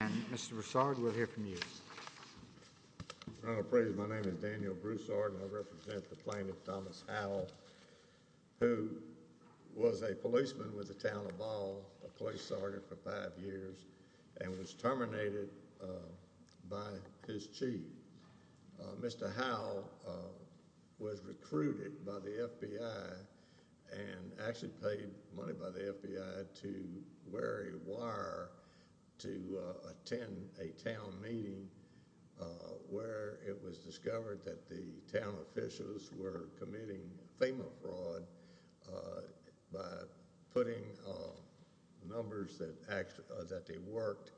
And Mr. Broussard, we'll hear from you. My name is Daniel Broussard, and I represent the plaintiff, Thomas Howell, who was a policeman with the Town of Ball, a police sergeant for five years, and was terminated by his chief. Mr. Howell was recruited by the FBI and actually paid money by the FBI to wear a wire to attend a town meeting where it was discovered that the town officials were committing FEMA fraud by putting numbers that they worked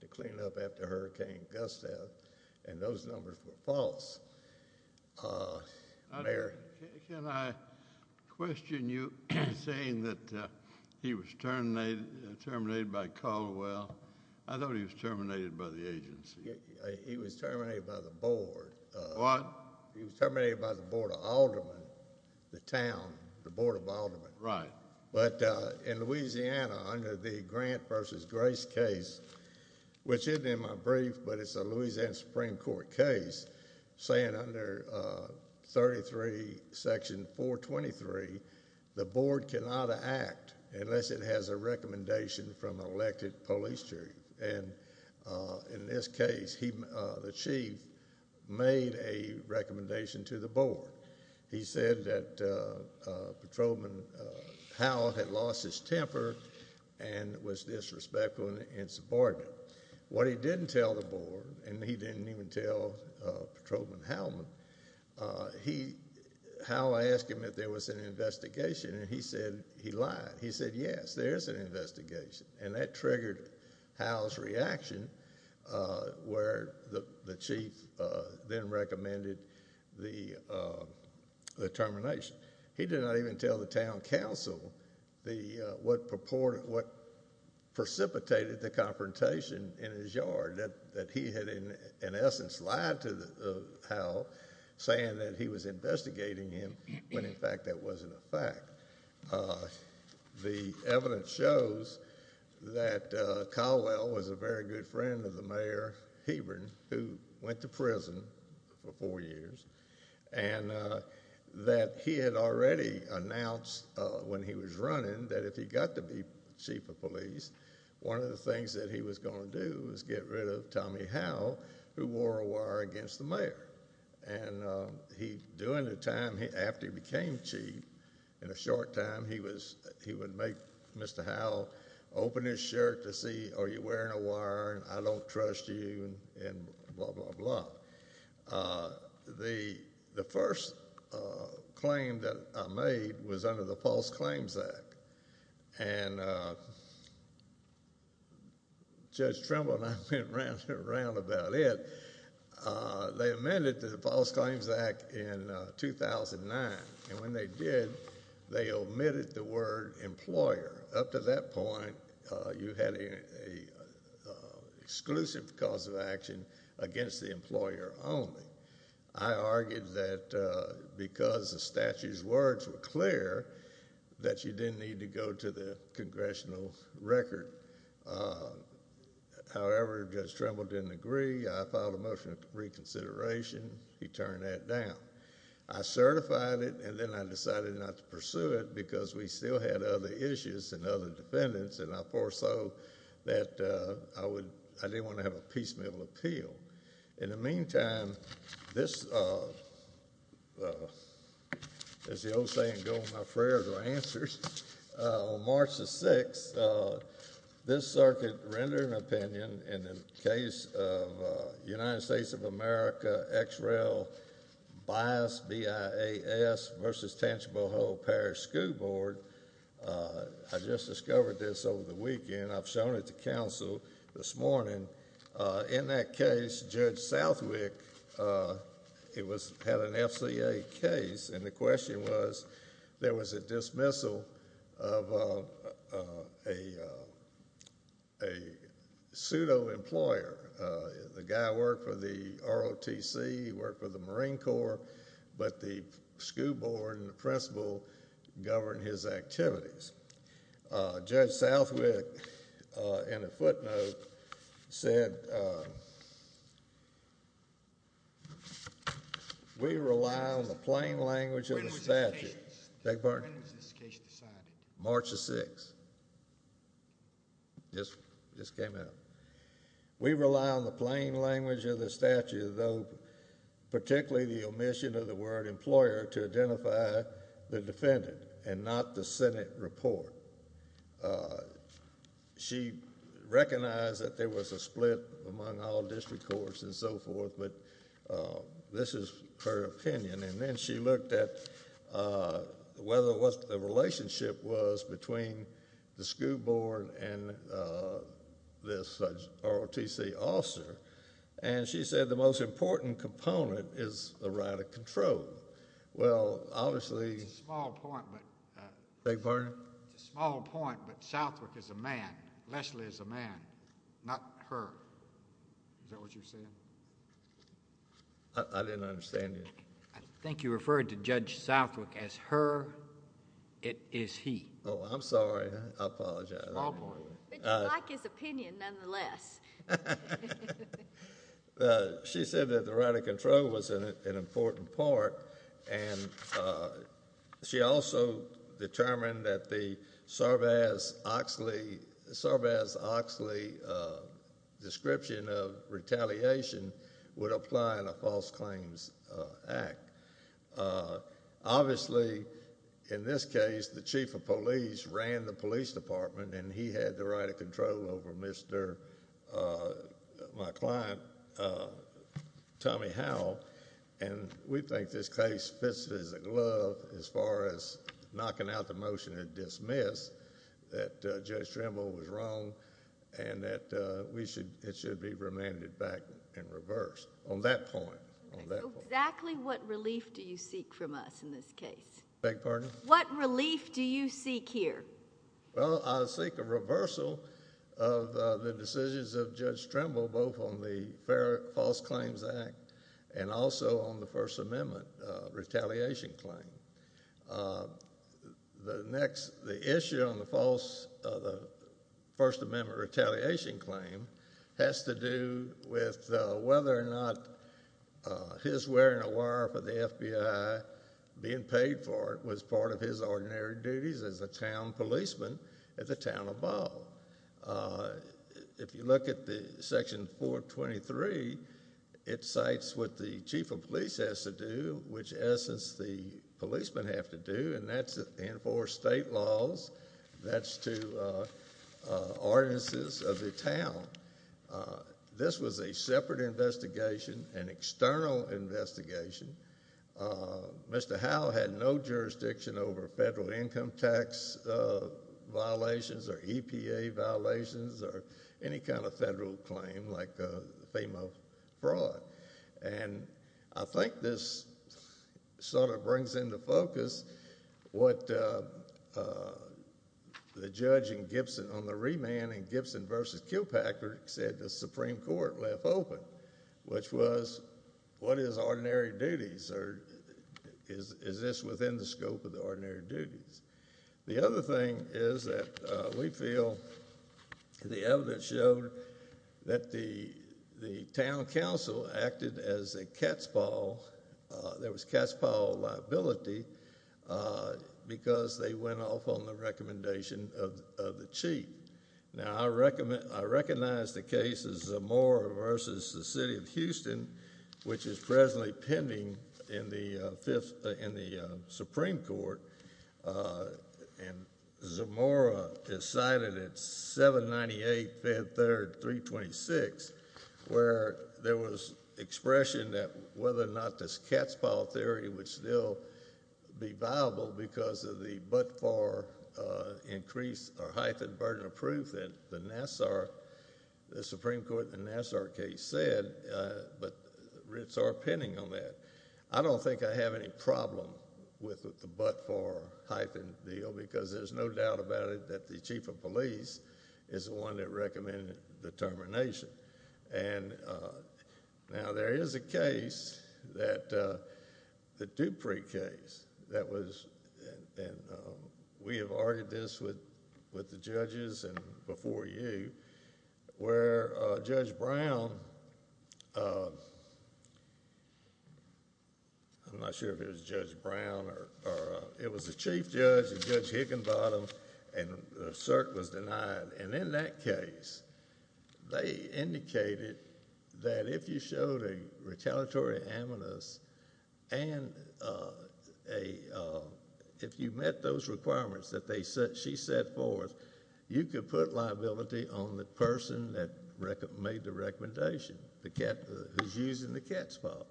to clean up after Hurricane Gustav, and those numbers were false. Can I question you saying that he was terminated by Caldwell? I thought he was terminated by the agency. He was terminated by the board. What? He was terminated by the Board of Aldermen, the town, the Board of Aldermen. Right. But in Louisiana, under the Grant v. Grace case, which isn't in my brief, but it's a Louisiana Supreme Court case, saying under Section 423, the board cannot act unless it has a recommendation from an elected police chief. And in this case, the chief made a recommendation to the board. He said that Patrolman Howell had lost his temper and was disrespectful and insubordinate. What he didn't tell the board, and he didn't even tell Patrolman Howell, Howell asked him if there was an investigation, and he said he lied. He said, yes, there is an investigation, and that triggered Howell's reaction where the chief then recommended the termination. He did not even tell the town council what precipitated the confrontation in his yard, that he had in essence lied to Howell saying that he was investigating him when, in fact, that wasn't a fact. The evidence shows that Caldwell was a very good friend of the mayor, Hebron, who went to prison for four years, and that he had already announced when he was running that if he got to be chief of police, one of the things that he was going to do was get rid of Tommy Howell, who wore a wire against the mayor. During the time after he became chief, in a short time, he would make Mr. Howell open his shirt to see, are you wearing a wire, I don't trust you, and blah, blah, blah. The first claim that I made was under the False Claims Act, and Judge Trumbull and I went around about it. They amended the False Claims Act in 2009, and when they did, they omitted the word employer. Up to that point, you had an exclusive cause of action against the employer only. I argued that because the statute's words were clear, that you didn't need to go to the congressional record. However, Judge Trumbull didn't agree. I filed a motion of reconsideration. He turned that down. I certified it, and then I decided not to pursue it because we still had other issues and other defendants, and I foresaw that I didn't want to have a piecemeal appeal. In the meantime, this is the old saying, go with my prayers or answers. On March the 6th, this circuit rendered an opinion in the case of United States of America, X-Rail Bias, B-I-A-S, versus Tangible Whole Parish School Board. I just discovered this over the weekend. I've shown it to counsel this morning. In that case, Judge Southwick had an FCA case, and the question was there was a dismissal of a pseudo-employer. The guy worked for the ROTC, he worked for the Marine Corps, but the school board and the principal governed his activities. Judge Southwick, in a footnote, said, we rely on the plain language of the statute. When was this case decided? March the 6th. Just came out. We rely on the plain language of the statute, particularly the omission of the word employer to identify the defendant, and not the Senate report. She recognized that there was a split among all district courts and so forth, but this is her opinion. Then she looked at whether the relationship was between the school board and this ROTC officer. She said the most important component is the right of control. Well, obviously... It's a small point, but... Beg your pardon? It's a small point, but Southwick is a man. Leslie is a man, not her. Is that what you're saying? I didn't understand you. I think you referred to Judge Southwick as her. It is he. Oh, I'm sorry. I apologize. Small point. But you like his opinion, nonetheless. She said that the right of control was an important part, and she also determined that the Sarvaz-Oxley description of retaliation would apply in a false claims act. Obviously, in this case, the chief of police ran the police department, and he had the right of control over my client, Tommy Howell, and we think this case fits it as a glove as far as knocking out the motion to dismiss that Judge Trimble was wrong and that it should be remanded back in reverse on that point. Exactly what relief do you seek from us in this case? Beg your pardon? What relief do you seek here? Well, I seek a reversal of the decisions of Judge Trimble, both on the false claims act and also on the First Amendment retaliation claim. The issue on the First Amendment retaliation claim has to do with whether or not his wearing a wire for the FBI, being paid for it, was part of his ordinary duties as a town policeman at the town of Ball. If you look at Section 423, it cites what the chief of police has to do, which, in essence, the policemen have to do, and that's enforce state laws. That's to ordinances of the town. This was a separate investigation, an external investigation. Mr. Howe had no jurisdiction over federal income tax violations or EPA violations or any kind of federal claim like FEMA fraud, and I think this sort of brings into focus what the judge in Gibson on the remand in Gibson v. Kilpacker said the Supreme Court left open, which was what is ordinary duties, or is this within the scope of the ordinary duties? The other thing is that we feel the evidence showed that the town council acted as a cat's paw. There was cat's paw liability because they went off on the recommendation of the chief. Now, I recognize the case of Zamora v. the city of Houston, which is presently pending in the Supreme Court, and Zamora is cited at 798-5-3-326, where there was expression that whether or not this cat's paw theory would still be viable because of the but-for increase or hyphen burden of proof that the Supreme Court in the Nassar case said, but writs are pending on that. I don't think I have any problem with the but-for hyphen deal because there's no doubt about it that the chief of police is the one that recommended the termination. Now, there is a case, the Dupree case, and we have argued this with the judges and before you, where Judge Brown, I'm not sure if it was Judge Brown, it was the chief judge, Judge Higginbottom, and the cert was denied. And in that case, they indicated that if you showed a retaliatory amicus and if you met those requirements that she set forth, you could put liability on the person that made the recommendation, who's using the cat's paw.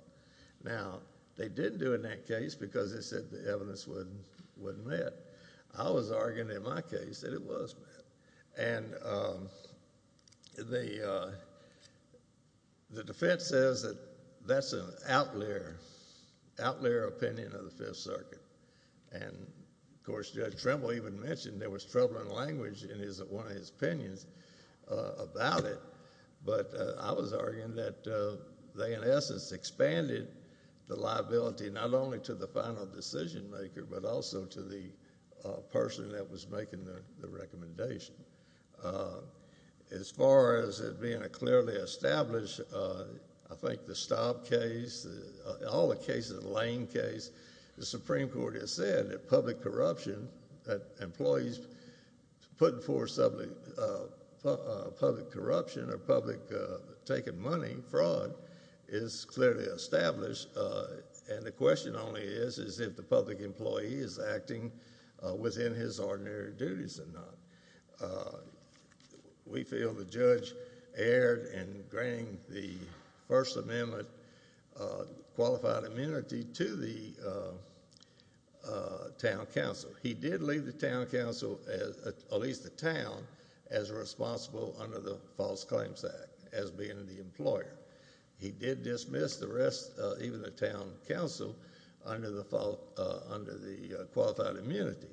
Now, they didn't do it in that case because they said the evidence wasn't met. I was arguing in my case that it was met. And the defense says that that's an outlier opinion of the Fifth Circuit. And, of course, Judge Trimble even mentioned there was troubling language in one of his opinions about it. But I was arguing that they, in essence, expanded the liability not only to the final decision maker but also to the person that was making the recommendation. As far as it being a clearly established, I think, the Stob case, all the cases, the Lane case, the Supreme Court has said that public corruption, that employees putting forth public corruption or public taking money, fraud, is clearly established. And the question only is if the public employee is acting within his ordinary duties or not. We feel the judge erred in granting the First Amendment qualified immunity to the town council. He did leave the town council, at least the town, as responsible under the False Claims Act as being the employer. He did dismiss the rest, even the town council, under the Qualified Immunity.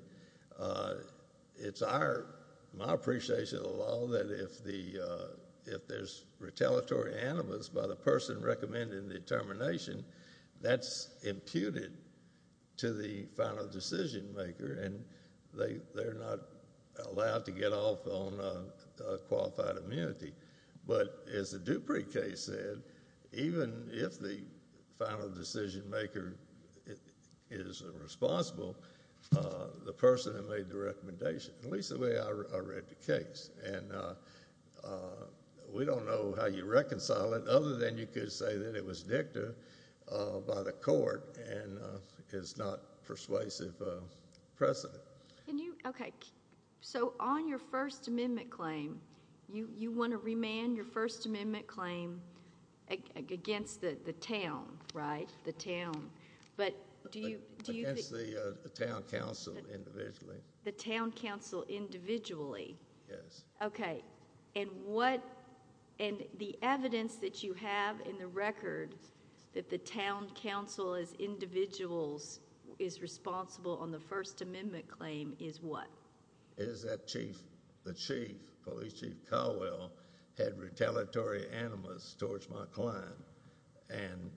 It's my appreciation of the law that if there's retaliatory animus by the person recommending the determination, that's imputed to the final decision maker, and they're not allowed to get off on Qualified Immunity. But as the Dupree case said, even if the final decision maker is responsible, the person that made the recommendation. At least the way I read the case. And we don't know how you reconcile it other than you could say that it was dicta by the court and it's not persuasive precedent. So on your First Amendment claim, you want to remand your First Amendment claim against the town, right? The town. Against the town council individually. The town council individually. Yes. Okay. And what, and the evidence that you have in the record that the town council as individuals is responsible on the First Amendment claim is what? The chief, police chief Caldwell, had retaliatory animus towards my client and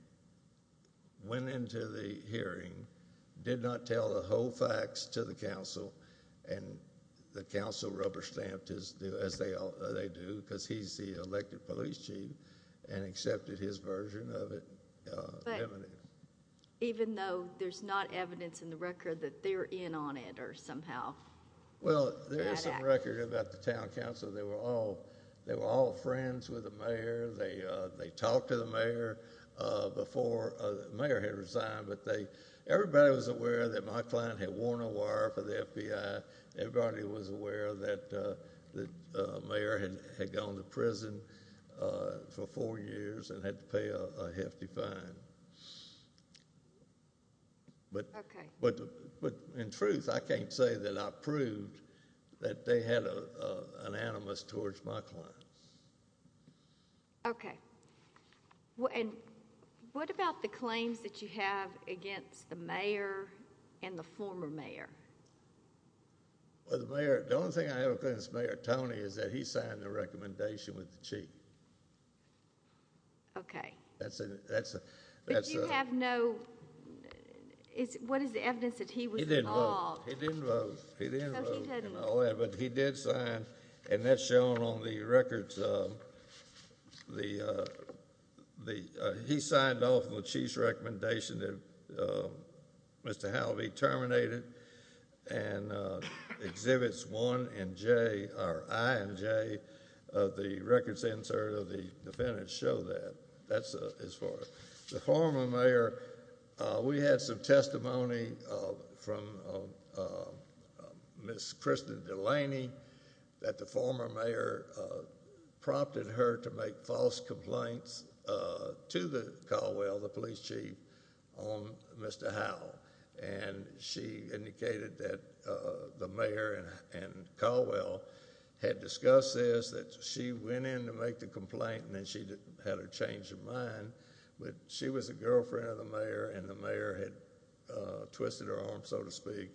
went into the hearing, did not tell the whole facts to the council, and the council rubber stamped as they do, because he's the elected police chief and accepted his version of it. Even though there's not evidence in the record that they're in on it or somehow? Well, there is some record about the town council. They were all friends with the mayor. They talked to the mayor before the mayor had resigned, but everybody was aware that my client had worn a wire for the FBI. Everybody was aware that the mayor had gone to prison for four years and had to pay a hefty fine. Okay. But in truth, I can't say that I proved that they had an animus towards my client. Okay. And what about the claims that you have against the mayor and the former mayor? Well, the mayor, the only thing I have against Mayor Tony is that he signed the recommendation with the chief. Okay. That's a, that's a... But you have no, what is the evidence that he was involved? He didn't vote. He didn't vote. Oh, he didn't vote. Oh, yeah, but he did sign, and that's shown on the records. He signed off on the chief's recommendation that Mr. Halvey terminate it, and Exhibits I and J of the records insert of the defendant show that. That's as far as... We had some testimony from Ms. Kristen Delaney that the former mayor prompted her to make false complaints to Caldwell, the police chief, on Mr. Howell. And she indicated that the mayor and Caldwell had discussed this, that she went in to make the complaint, and then she had her change of mind. But she was a girlfriend of the mayor, and the mayor had twisted her arm, so to speak,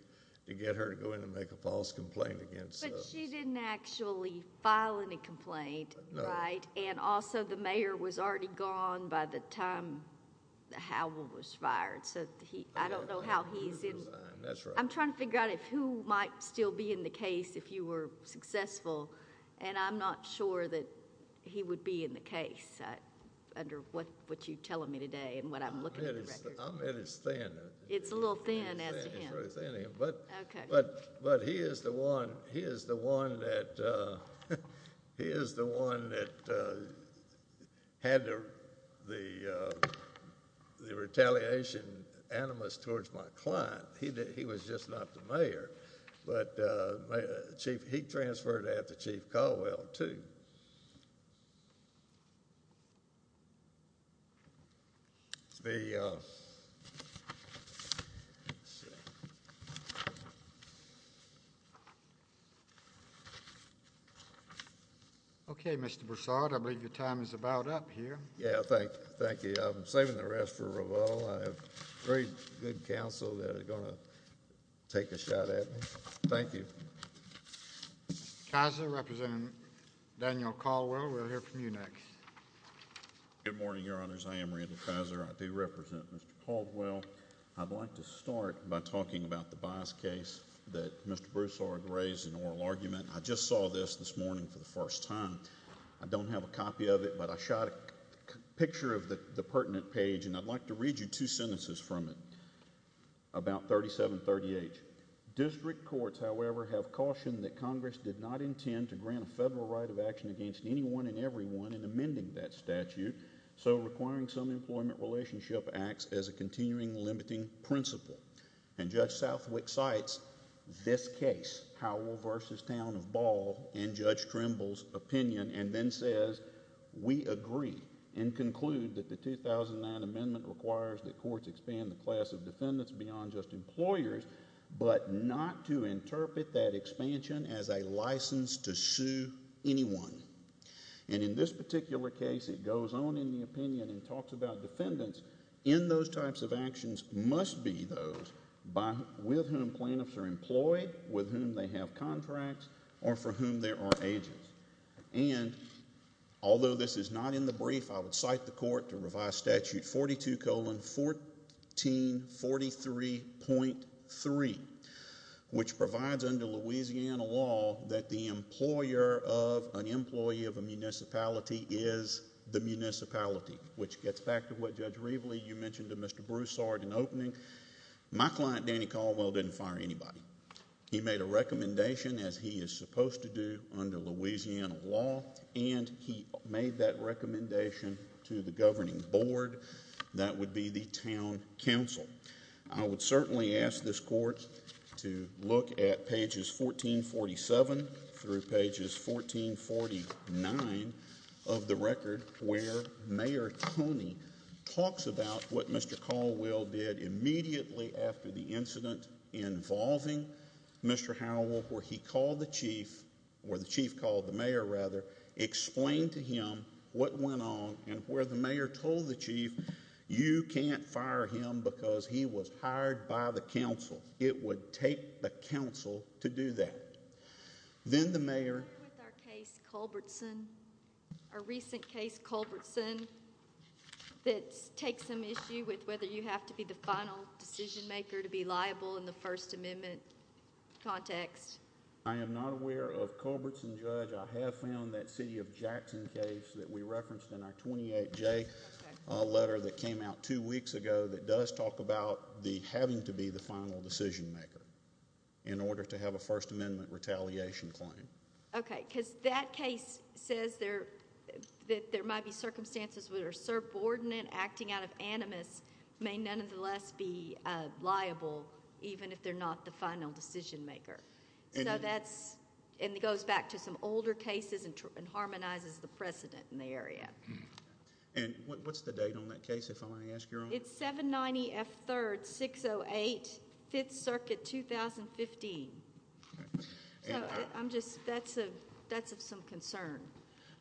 to get her to go in and make a false complaint against... But she didn't actually file any complaint, right? No. And also, the mayor was already gone by the time Howell was fired, so I don't know how he's in... That's right. I'm trying to figure out who might still be in the case if you were successful, and I'm not sure that he would be in the case under what you're telling me today and what I'm looking at in the records. I'll admit it's thin. It's a little thin as to him. But he is the one that had the retaliation animus towards my client. He was just not the mayor, but he transferred after Chief Caldwell, too. Thank you. Okay, Mr. Broussard, I believe your time is about up here. Yeah, thank you. I'm saving the rest for Ravel. I have very good counsel that are going to take a shot at me. Thank you. Kaiser, representing Daniel Caldwell, we'll hear from you next. Good morning, Your Honors. I am Randall Kaiser. I do represent Mr. Caldwell. I'd like to start by talking about the bias case that Mr. Broussard raised in oral argument. I just saw this this morning for the first time. I don't have a copy of it, but I shot a picture of the pertinent page, and I'd like to read you two sentences from it, about 3738. District courts, however, have cautioned that Congress did not intend to grant a federal right of action against anyone and everyone in amending that statute, so requiring some employment relationship acts as a continuing limiting principle. And Judge Southwick cites this case, Howell v. Town of Ball, in Judge Trimble's opinion, and then says, We agree and conclude that the 2009 amendment requires that courts expand the class of defendants beyond just employers, but not to interpret that expansion as a license to sue anyone. And in this particular case, it goes on in the opinion and talks about defendants. In those types of actions must be those with whom plaintiffs are employed, with whom they have contracts, or for whom there are agents. And although this is not in the brief, I would cite the court to revise Statute 42-1443.3, which provides under Louisiana law that the employer of an employee of a municipality is the municipality, which gets back to what Judge Reveley, you mentioned to Mr. Bruce, saw at an opening. My client, Danny Caldwell, didn't fire anybody. He made a recommendation, as he is supposed to do under Louisiana law, and he made that recommendation to the governing board, that would be the town council. I would certainly ask this court to look at pages 1447 through pages 1449 of the record, where Mayor Toney talks about what Mr. Caldwell did immediately after the incident involving Mr. Howell, where he called the chief, or the chief called the mayor, rather, explained to him what went on, and where the mayor told the chief, you can't fire him because he was hired by the council. It would take the council to do that. Then the mayor— Are you aware of our case Culbertson, our recent case Culbertson, that takes some issue with whether you have to be the final decision maker to be liable in the First Amendment context? I am not aware of Culbertson, Judge. I have found that City of Jackson case that we referenced in our 28J letter that came out two weeks ago that does talk about the having to be the final decision maker in order to have a First Amendment retaliation claim. Okay, because that case says that there might be circumstances where a subordinate acting out of animus may nonetheless be liable, even if they're not the final decision maker. So that's—and it goes back to some older cases and harmonizes the precedent in the area. And what's the date on that case, if I may ask Your Honor? It's 790 F. 3rd, 608 Fifth Circuit, 2015. So I'm just—that's of some concern.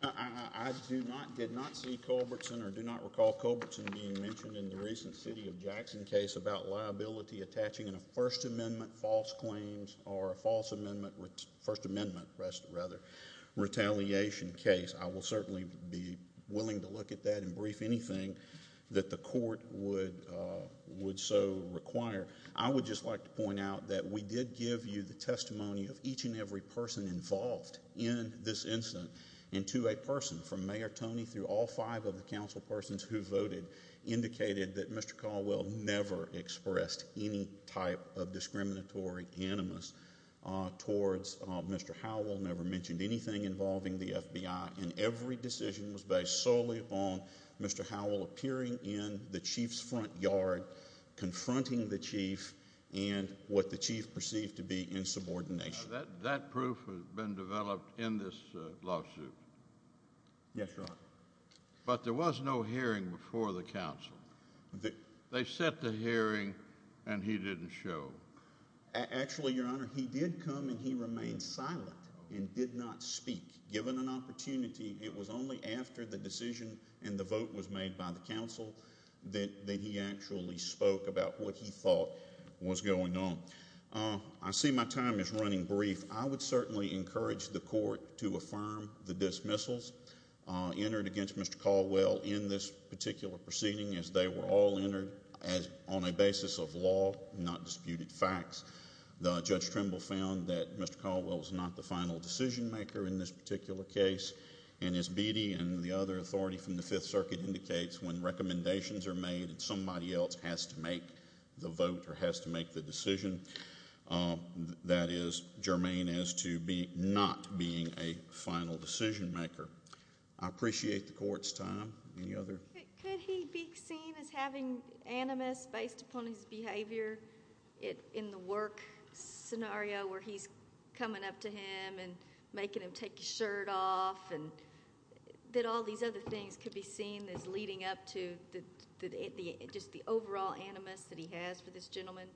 I do not—did not see Culbertson or do not recall Culbertson being mentioned in the recent City of Jackson case about liability attaching in a First Amendment false claims or a False Amendment—First Amendment, rather, retaliation case. I will certainly be willing to look at that and brief anything that the court would so require. I would just like to point out that we did give you the testimony of each and every person involved in this incident. And to a person, from Mayor Tony through all five of the council persons who voted, indicated that Mr. Caldwell never expressed any type of discriminatory animus towards Mr. Howell, never mentioned anything involving the FBI. And every decision was based solely upon Mr. Howell appearing in the chief's front yard, confronting the chief, and what the chief perceived to be insubordination. Now, that proof has been developed in this lawsuit. Yes, Your Honor. But there was no hearing before the council. They set the hearing, and he didn't show. Actually, Your Honor, he did come and he remained silent and did not speak. Given an opportunity, it was only after the decision and the vote was made by the council that he actually spoke about what he thought was going on. I see my time is running brief. I would certainly encourage the court to affirm the dismissals entered against Mr. Caldwell in this particular proceeding as they were all entered on a basis of law, not disputed facts. Judge Trimble found that Mr. Caldwell was not the final decision maker in this particular case. And as Beattie and the other authority from the Fifth Circuit indicates, when recommendations are made and somebody else has to make the vote or has to make the decision, that is germane as to not being a final decision maker. I appreciate the court's time. Any other? Could he be seen as having animus based upon his behavior in the work scenario where he's coming up to him and making him take his shirt off and that all these other things could be seen as leading up to just the overall animus that he has for this gentleman?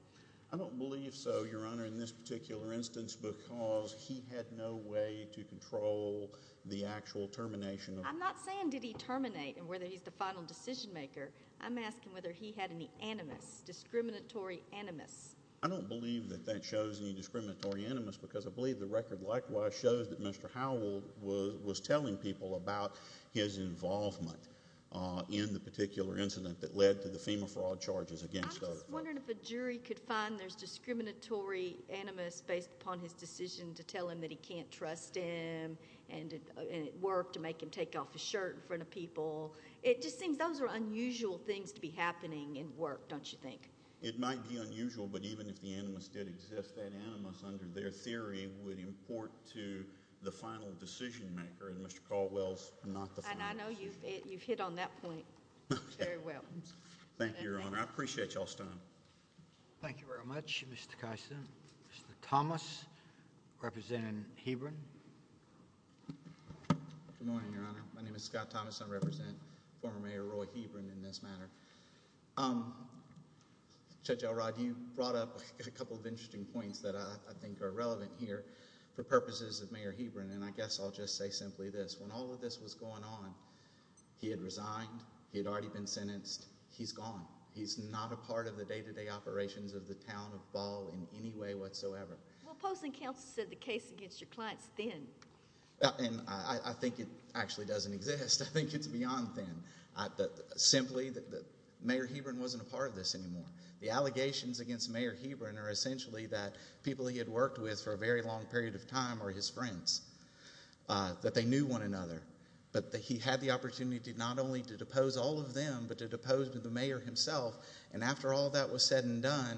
I don't believe so, Your Honor, in this particular instance because he had no way to control the actual termination. I'm not saying did he terminate and whether he's the final decision maker. I'm asking whether he had any animus, discriminatory animus. I don't believe that that shows any discriminatory animus because I believe the record likewise shows that Mr. Howell was telling people about his involvement in the particular incident that led to the FEMA fraud charges against him. I was wondering if a jury could find there's discriminatory animus based upon his decision to tell him that he can't trust him and it worked to make him take off his shirt in front of people. It just seems those are unusual things to be happening in work, don't you think? It might be unusual, but even if the animus did exist, that animus under their theory would import to the final decision maker and Mr. Caldwell's not the final decision maker. And I know you've hit on that point very well. Thank you, Your Honor. I appreciate y'all's time. Thank you very much, Mr. Keiser. Mr. Thomas, representing Hebron. Good morning, Your Honor. My name is Scott Thomas. I represent former Mayor Roy Hebron in this matter. Judge Elrod, you brought up a couple of interesting points that I think are relevant here for purposes of Mayor Hebron, and I guess I'll just say simply this. When all of this was going on, he had resigned. He had already been sentenced. He's gone. He's not a part of the day-to-day operations of the town of Ball in any way whatsoever. Well, opposing counsel said the case against your client's thin. And I think it actually doesn't exist. I think it's beyond thin. Simply, Mayor Hebron wasn't a part of this anymore. The allegations against Mayor Hebron are essentially that people he had worked with for a very long period of time are his friends, that they knew one another, but that he had the opportunity not only to depose all of them, but to depose the mayor himself. And after all that was said and done,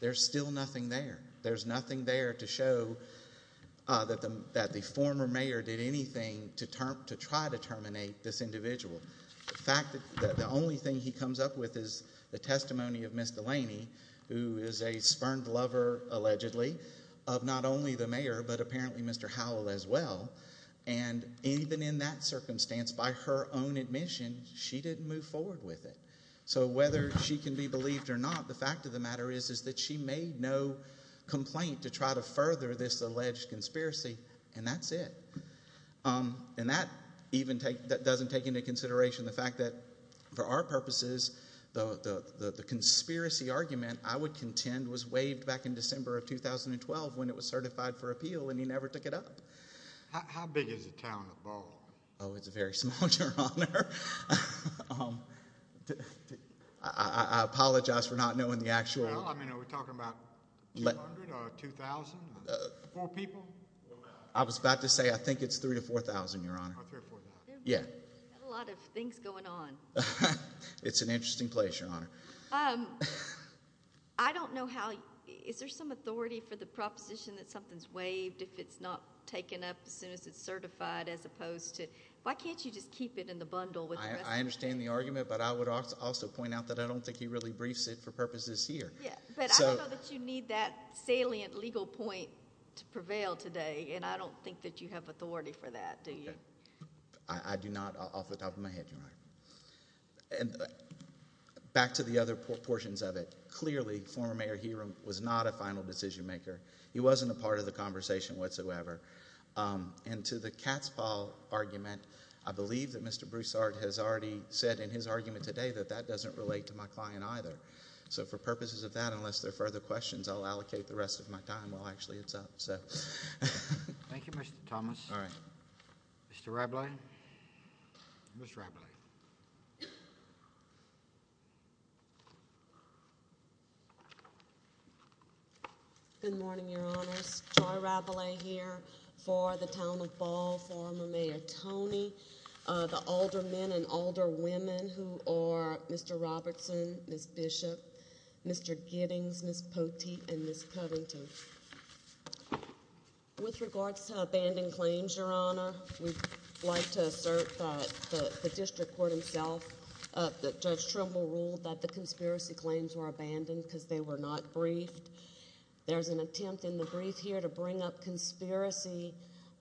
there's still nothing there. There's nothing there to show that the former mayor did anything to try to terminate this individual. In fact, the only thing he comes up with is the testimony of Ms. Delaney, who is a spurned lover, allegedly, of not only the mayor, but apparently Mr. Howell as well. And even in that circumstance, by her own admission, she didn't move forward with it. So whether she can be believed or not, the fact of the matter is that she made no complaint to try to further this alleged conspiracy, and that's it. And that doesn't take into consideration the fact that, for our purposes, the conspiracy argument, I would contend, was waived back in December of 2012 when it was certified for appeal, and he never took it up. How big is the town of Ball? Oh, it's very small, Your Honor. I apologize for not knowing the actual— Well, I mean, are we talking about 200 or 2,000, four people? I was about to say I think it's 3,000 to 4,000, Your Honor. Oh, 3,000 to 4,000. Yeah. A lot of things going on. It's an interesting place, Your Honor. I don't know how—is there some authority for the proposition that something's waived if it's not taken up as soon as it's certified as opposed to— why can't you just keep it in the bundle with the rest of it? I understand the argument, but I would also point out that I don't think he really briefs it for purposes here. Yeah, but I don't know that you need that salient legal point to prevail today, and I don't think that you have authority for that, do you? I do not off the top of my head, Your Honor. Back to the other portions of it. Clearly, former Mayor Herum was not a final decision maker. He wasn't a part of the conversation whatsoever. And to the cat's paw argument, I believe that Mr. Broussard has already said in his argument today that that doesn't relate to my client either. So for purposes of that, unless there are further questions, I'll allocate the rest of my time while actually it's up. Thank you, Mr. Thomas. All right. Mr. Rabelais. Ms. Rabelais. Good morning, Your Honors. Joy Rabelais here for the Town of Ball, former Mayor Tony, the older men and older women who are Mr. Robertson, Ms. Bishop, Mr. Giddings, Ms. Poteet, and Ms. Covington. With regards to abandoned claims, Your Honor, we'd like to assert that the district court himself, that Judge Trimble ruled that the conspiracy claims were abandoned because they were not briefed. There's an attempt in the brief here to bring up conspiracy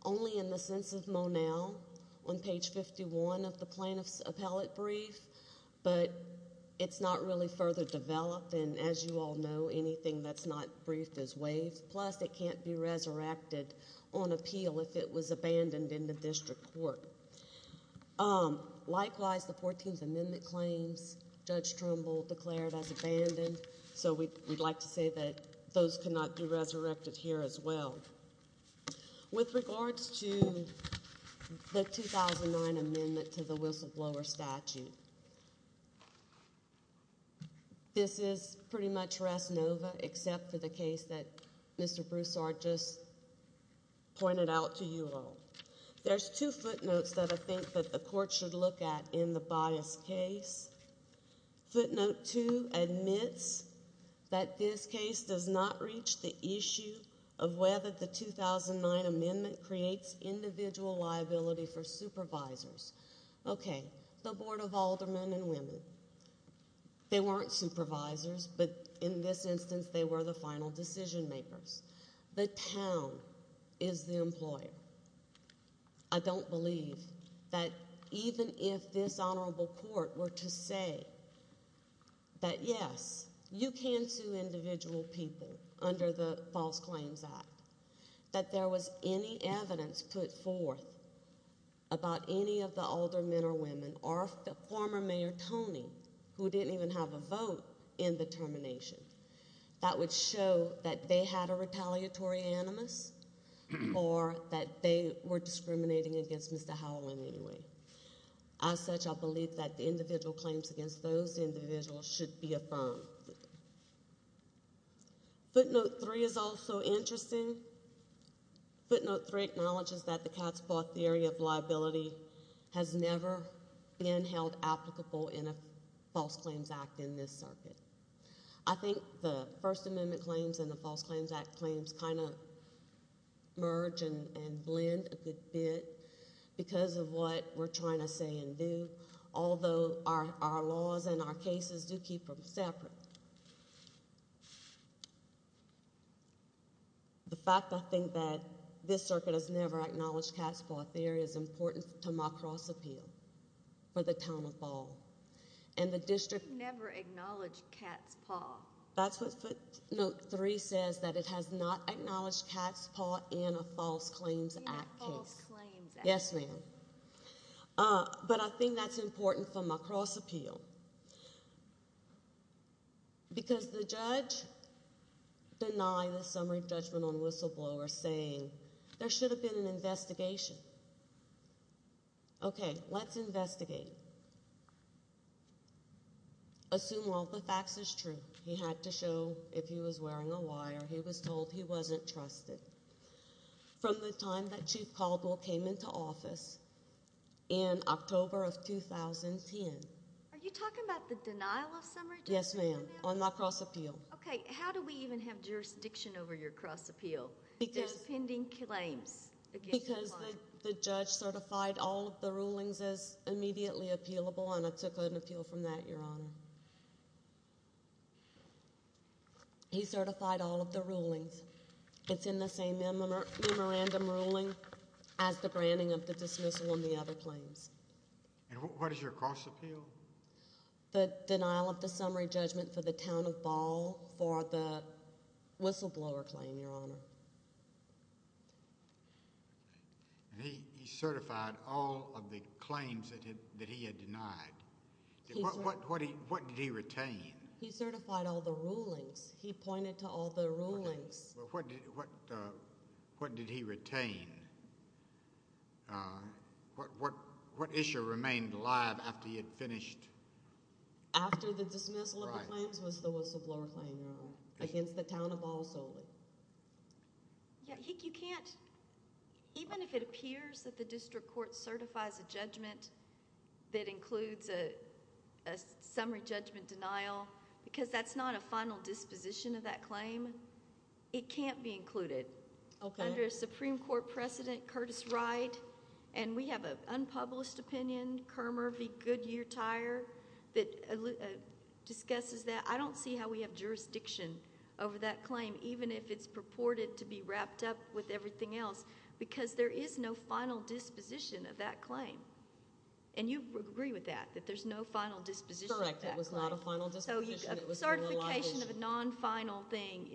only in the sense of Monell on page 51 of the plaintiff's appellate brief, but it's not really further developed, and as you all know, anything that's not briefed is waived. Plus, it can't be resurrected on appeal if it was abandoned in the district court. Likewise, the 14th Amendment claims, Judge Trimble declared as abandoned, so we'd like to say that those cannot be resurrected here as well. With regards to the 2009 amendment to the whistleblower statute, this is pretty much res nova except for the case that Mr. Broussard just pointed out to you all. There's two footnotes that I think that the court should look at in the biased case. Footnote two admits that this case does not reach the issue of whether the 2009 amendment creates individual liability for supervisors. Okay, the Board of Aldermen and Women. They weren't supervisors, but in this instance, they were the final decision makers. The town is the employer. I don't believe that even if this honorable court were to say that, yes, you can sue individual people under the False Claims Act, that there was any evidence put forth about any of the older men or women or the former mayor, Tony, who didn't even have a vote in the termination, that would show that they had a retaliatory animus or that they were discriminating against Mr. Howell in any way. As such, I believe that the individual claims against those individuals should be affirmed. Footnote three is also interesting. Footnote three acknowledges that the Cats bought the area of liability has never been held applicable in a False Claims Act in this circuit. I think the First Amendment claims and the False Claims Act claims kind of merge and blend a good bit because of what we're trying to say and do, although our laws and our cases do keep them separate. The fact, I think, that this circuit has never acknowledged Cats bought the area is important to my cross appeal for the town of Ball. You've never acknowledged Cats bought. That's what footnote three says, that it has not acknowledged Cats bought in a False Claims Act case. Not False Claims Act. Yes, ma'am. But I think that's important for my cross appeal because the judge denied the summary judgment on Whistleblower saying there should have been an investigation. Okay, let's investigate. Assume all the facts is true. He had to show if he was wearing a wire. He was told he wasn't trusted. From the time that Chief Caldwell came into office in October of 2010. Are you talking about the denial of summary judgment? Yes, ma'am, on my cross appeal. Okay. How do we even have jurisdiction over your cross appeal? There's pending claims. Because the judge certified all of the rulings as immediately appealable, and I took an appeal from that, Your Honor. He certified all of the rulings. It's in the same memorandum ruling as the branding of the dismissal and the other claims. And what is your cross appeal? The denial of the summary judgment for the town of Ball for the whistleblower claim, Your Honor. He certified all of the claims that he had denied. What did he retain? He certified all the rulings. He pointed to all the rulings. What did he retain? What issue remained alive after he had finished? After the dismissal of the claims was the whistleblower claim, Your Honor, against the town of Ball solely. You can't, even if it appears that the district court certifies a judgment that includes a summary judgment denial, because that's not a final disposition of that claim, it can't be included. Okay. If you go to Supreme Court President Curtis Wright, and we have an unpublished opinion, Kermer v. Goodyear-Tyre, that discusses that, I don't see how we have jurisdiction over that claim, even if it's purported to be wrapped up with everything else, because there is no final disposition of that claim. And you agree with that, that there's no final disposition of that claim. Correct. It was not a final disposition. A certification of a non-final thing,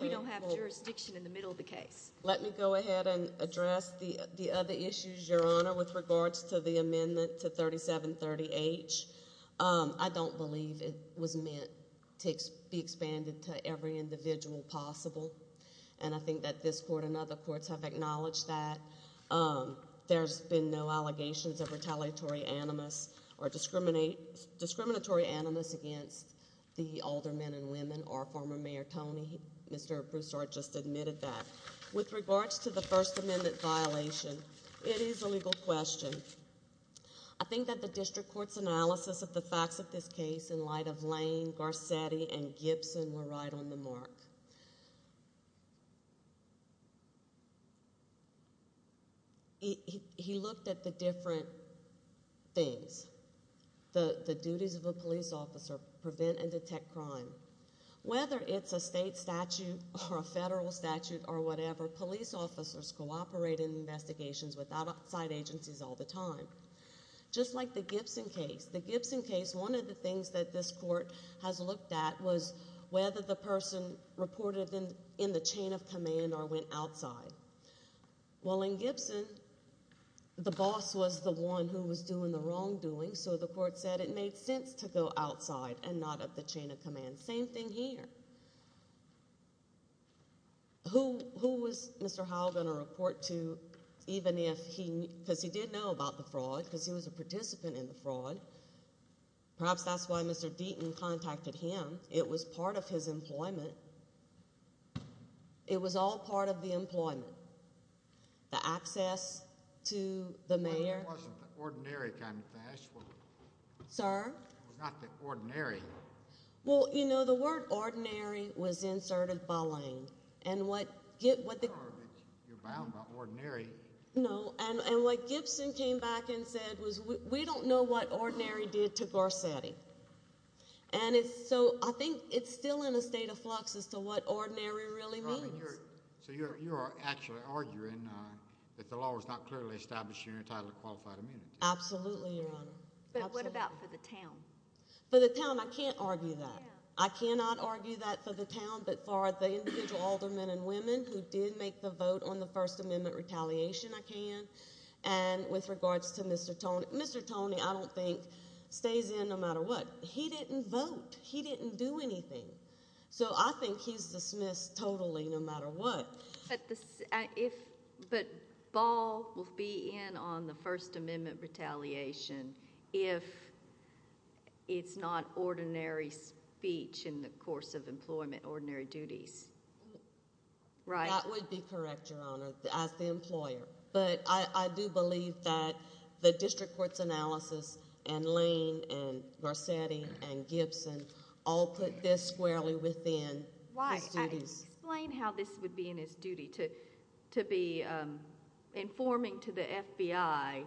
we don't have jurisdiction in the middle of the case. Let me go ahead and address the other issues, Your Honor, with regards to the amendment to 3730H. I don't believe it was meant to be expanded to every individual possible, and I think that this court and other courts have acknowledged that. There's been no allegations of retaliatory animus or discriminatory animus against the older men and women or former Mayor Tony. Mr. Broussard just admitted that. With regards to the First Amendment violation, it is a legal question. I think that the district court's analysis of the facts of this case in light of Lane, Garcetti, and Gibson were right on the mark. He looked at the different things. The duties of a police officer, prevent and detect crime. Whether it's a state statute or a federal statute or whatever, police officers cooperate in investigations with outside agencies all the time. Just like the Gibson case. The Gibson case, one of the things that this court has looked at was whether the person reported in the chain of command or went outside. Well, in Gibson, the boss was the one who was doing the wrongdoing, so the court said it made sense to go outside and not at the chain of command. Same thing here. Who was Mr. Howell going to report to even if he – because he did know about the fraud because he was a participant in the fraud. Perhaps that's why Mr. Deaton contacted him. It was part of his employment. It was all part of the employment. The access to the mayor. But it wasn't the ordinary kind of thing. Sir? It was not the ordinary. Well, you know, the word ordinary was inserted by Lane, and what – You're bound by ordinary. No, and what Gibson came back and said was we don't know what ordinary did to Garcetti. And so I think it's still in a state of flux as to what ordinary really means. So you are actually arguing that the law was not clearly established in your title of qualified immunity? Absolutely, Your Honor. But what about for the town? For the town, I can't argue that. I cannot argue that for the town, but for the individual older men and women who did make the vote on the First Amendment retaliation, I can. And with regards to Mr. Toney, Mr. Toney I don't think stays in no matter what. He didn't vote. He didn't do anything. So I think he's dismissed totally no matter what. But if – but Ball will be in on the First Amendment retaliation if it's not ordinary speech in the course of employment, ordinary duties, right? That would be correct, Your Honor, as the employer. But I do believe that the district court's analysis and Lane and Garcetti and Gibson all put this squarely within his duties. Why? Explain how this would be in his duty to be informing to the FBI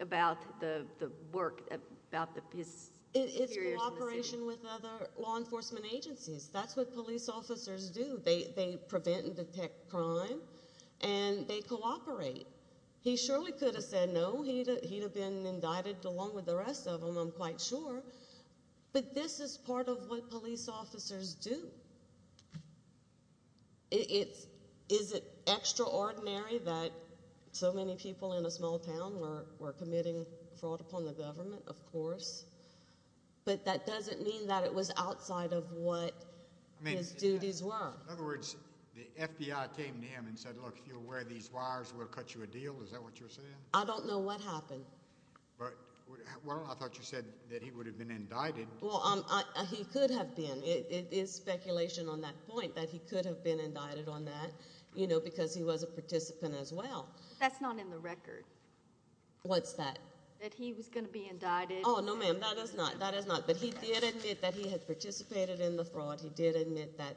about the work, about his experience in the city. It's cooperation with other law enforcement agencies. That's what police officers do. They prevent and detect crime, and they cooperate. He surely could have said no. He would have been indicted along with the rest of them, I'm quite sure. But this is part of what police officers do. Is it extraordinary that so many people in a small town were committing fraud upon the government? Of course. But that doesn't mean that it was outside of what his duties were. In other words, the FBI came to him and said, look, if you're aware of these wires, we'll cut you a deal. Is that what you're saying? I don't know what happened. Well, I thought you said that he would have been indicted. Well, he could have been. It is speculation on that point that he could have been indicted on that because he was a participant as well. That's not in the record. What's that? That he was going to be indicted. Oh, no, ma'am, that is not. That is not. But he did admit that he had participated in the fraud. He did admit that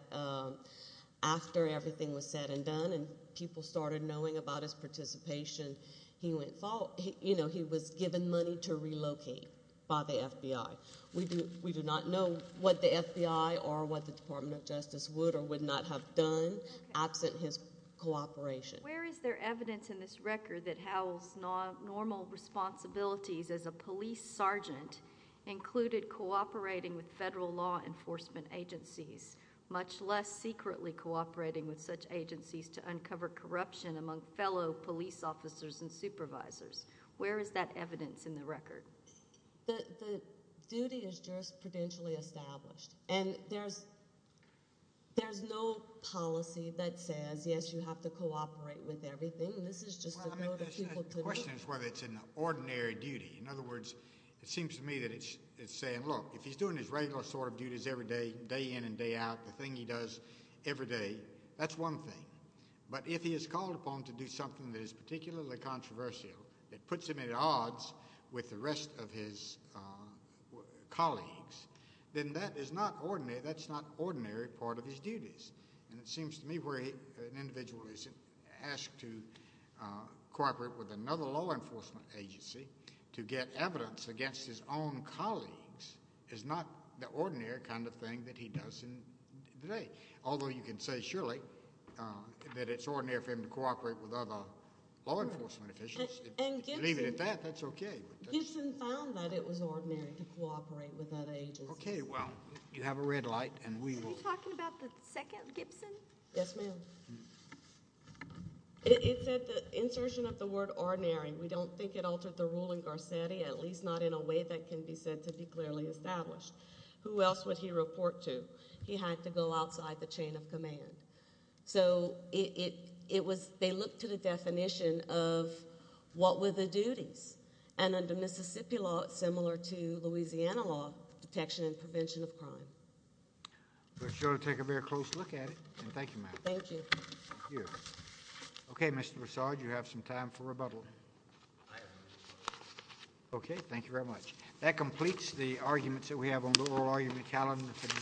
after everything was said and done and people started knowing about his participation, he was given money to relocate by the FBI. We do not know what the FBI or what the Department of Justice would or would not have done absent his cooperation. Where is there evidence in this record that Howell's normal responsibilities as a police sergeant included cooperating with federal law enforcement agencies, much less secretly cooperating with such agencies to uncover corruption among fellow police officers and supervisors? Where is that evidence in the record? The duty is jurisprudentially established. And there's no policy that says, yes, you have to cooperate with everything. This is just a group of people. The question is whether it's an ordinary duty. In other words, it seems to me that it's saying, look, if he's doing his regular sort of duties every day, day in and day out, the thing he does every day, that's one thing. But if he is called upon to do something that is particularly controversial, that puts him at odds with the rest of his colleagues, then that is not ordinary. That's not an ordinary part of his duties. And it seems to me where an individual is asked to cooperate with another law enforcement agency to get evidence against his own colleagues is not the ordinary kind of thing that he does in the day. Although you can say surely that it's ordinary for him to cooperate with other law enforcement officials. And even at that, that's okay. Gibson found that it was ordinary to cooperate with other agencies. Okay, well, you have a red light, and we will – Are you talking about the second Gibson? Yes, ma'am. It said the insertion of the word ordinary. We don't think it altered the rule in Garcetti, at least not in a way that can be said to be clearly established. Who else would he report to? He had to go outside the chain of command. So it was – they looked to the definition of what were the duties. And under Mississippi law, it's similar to Louisiana law, detection and prevention of crime. We're sure to take a very close look at it. And thank you, ma'am. Thank you. Thank you. Okay, Mr. Broussard, you have some time for rebuttal. Okay, thank you very much. That completes the arguments that we have on the oral argument calendar.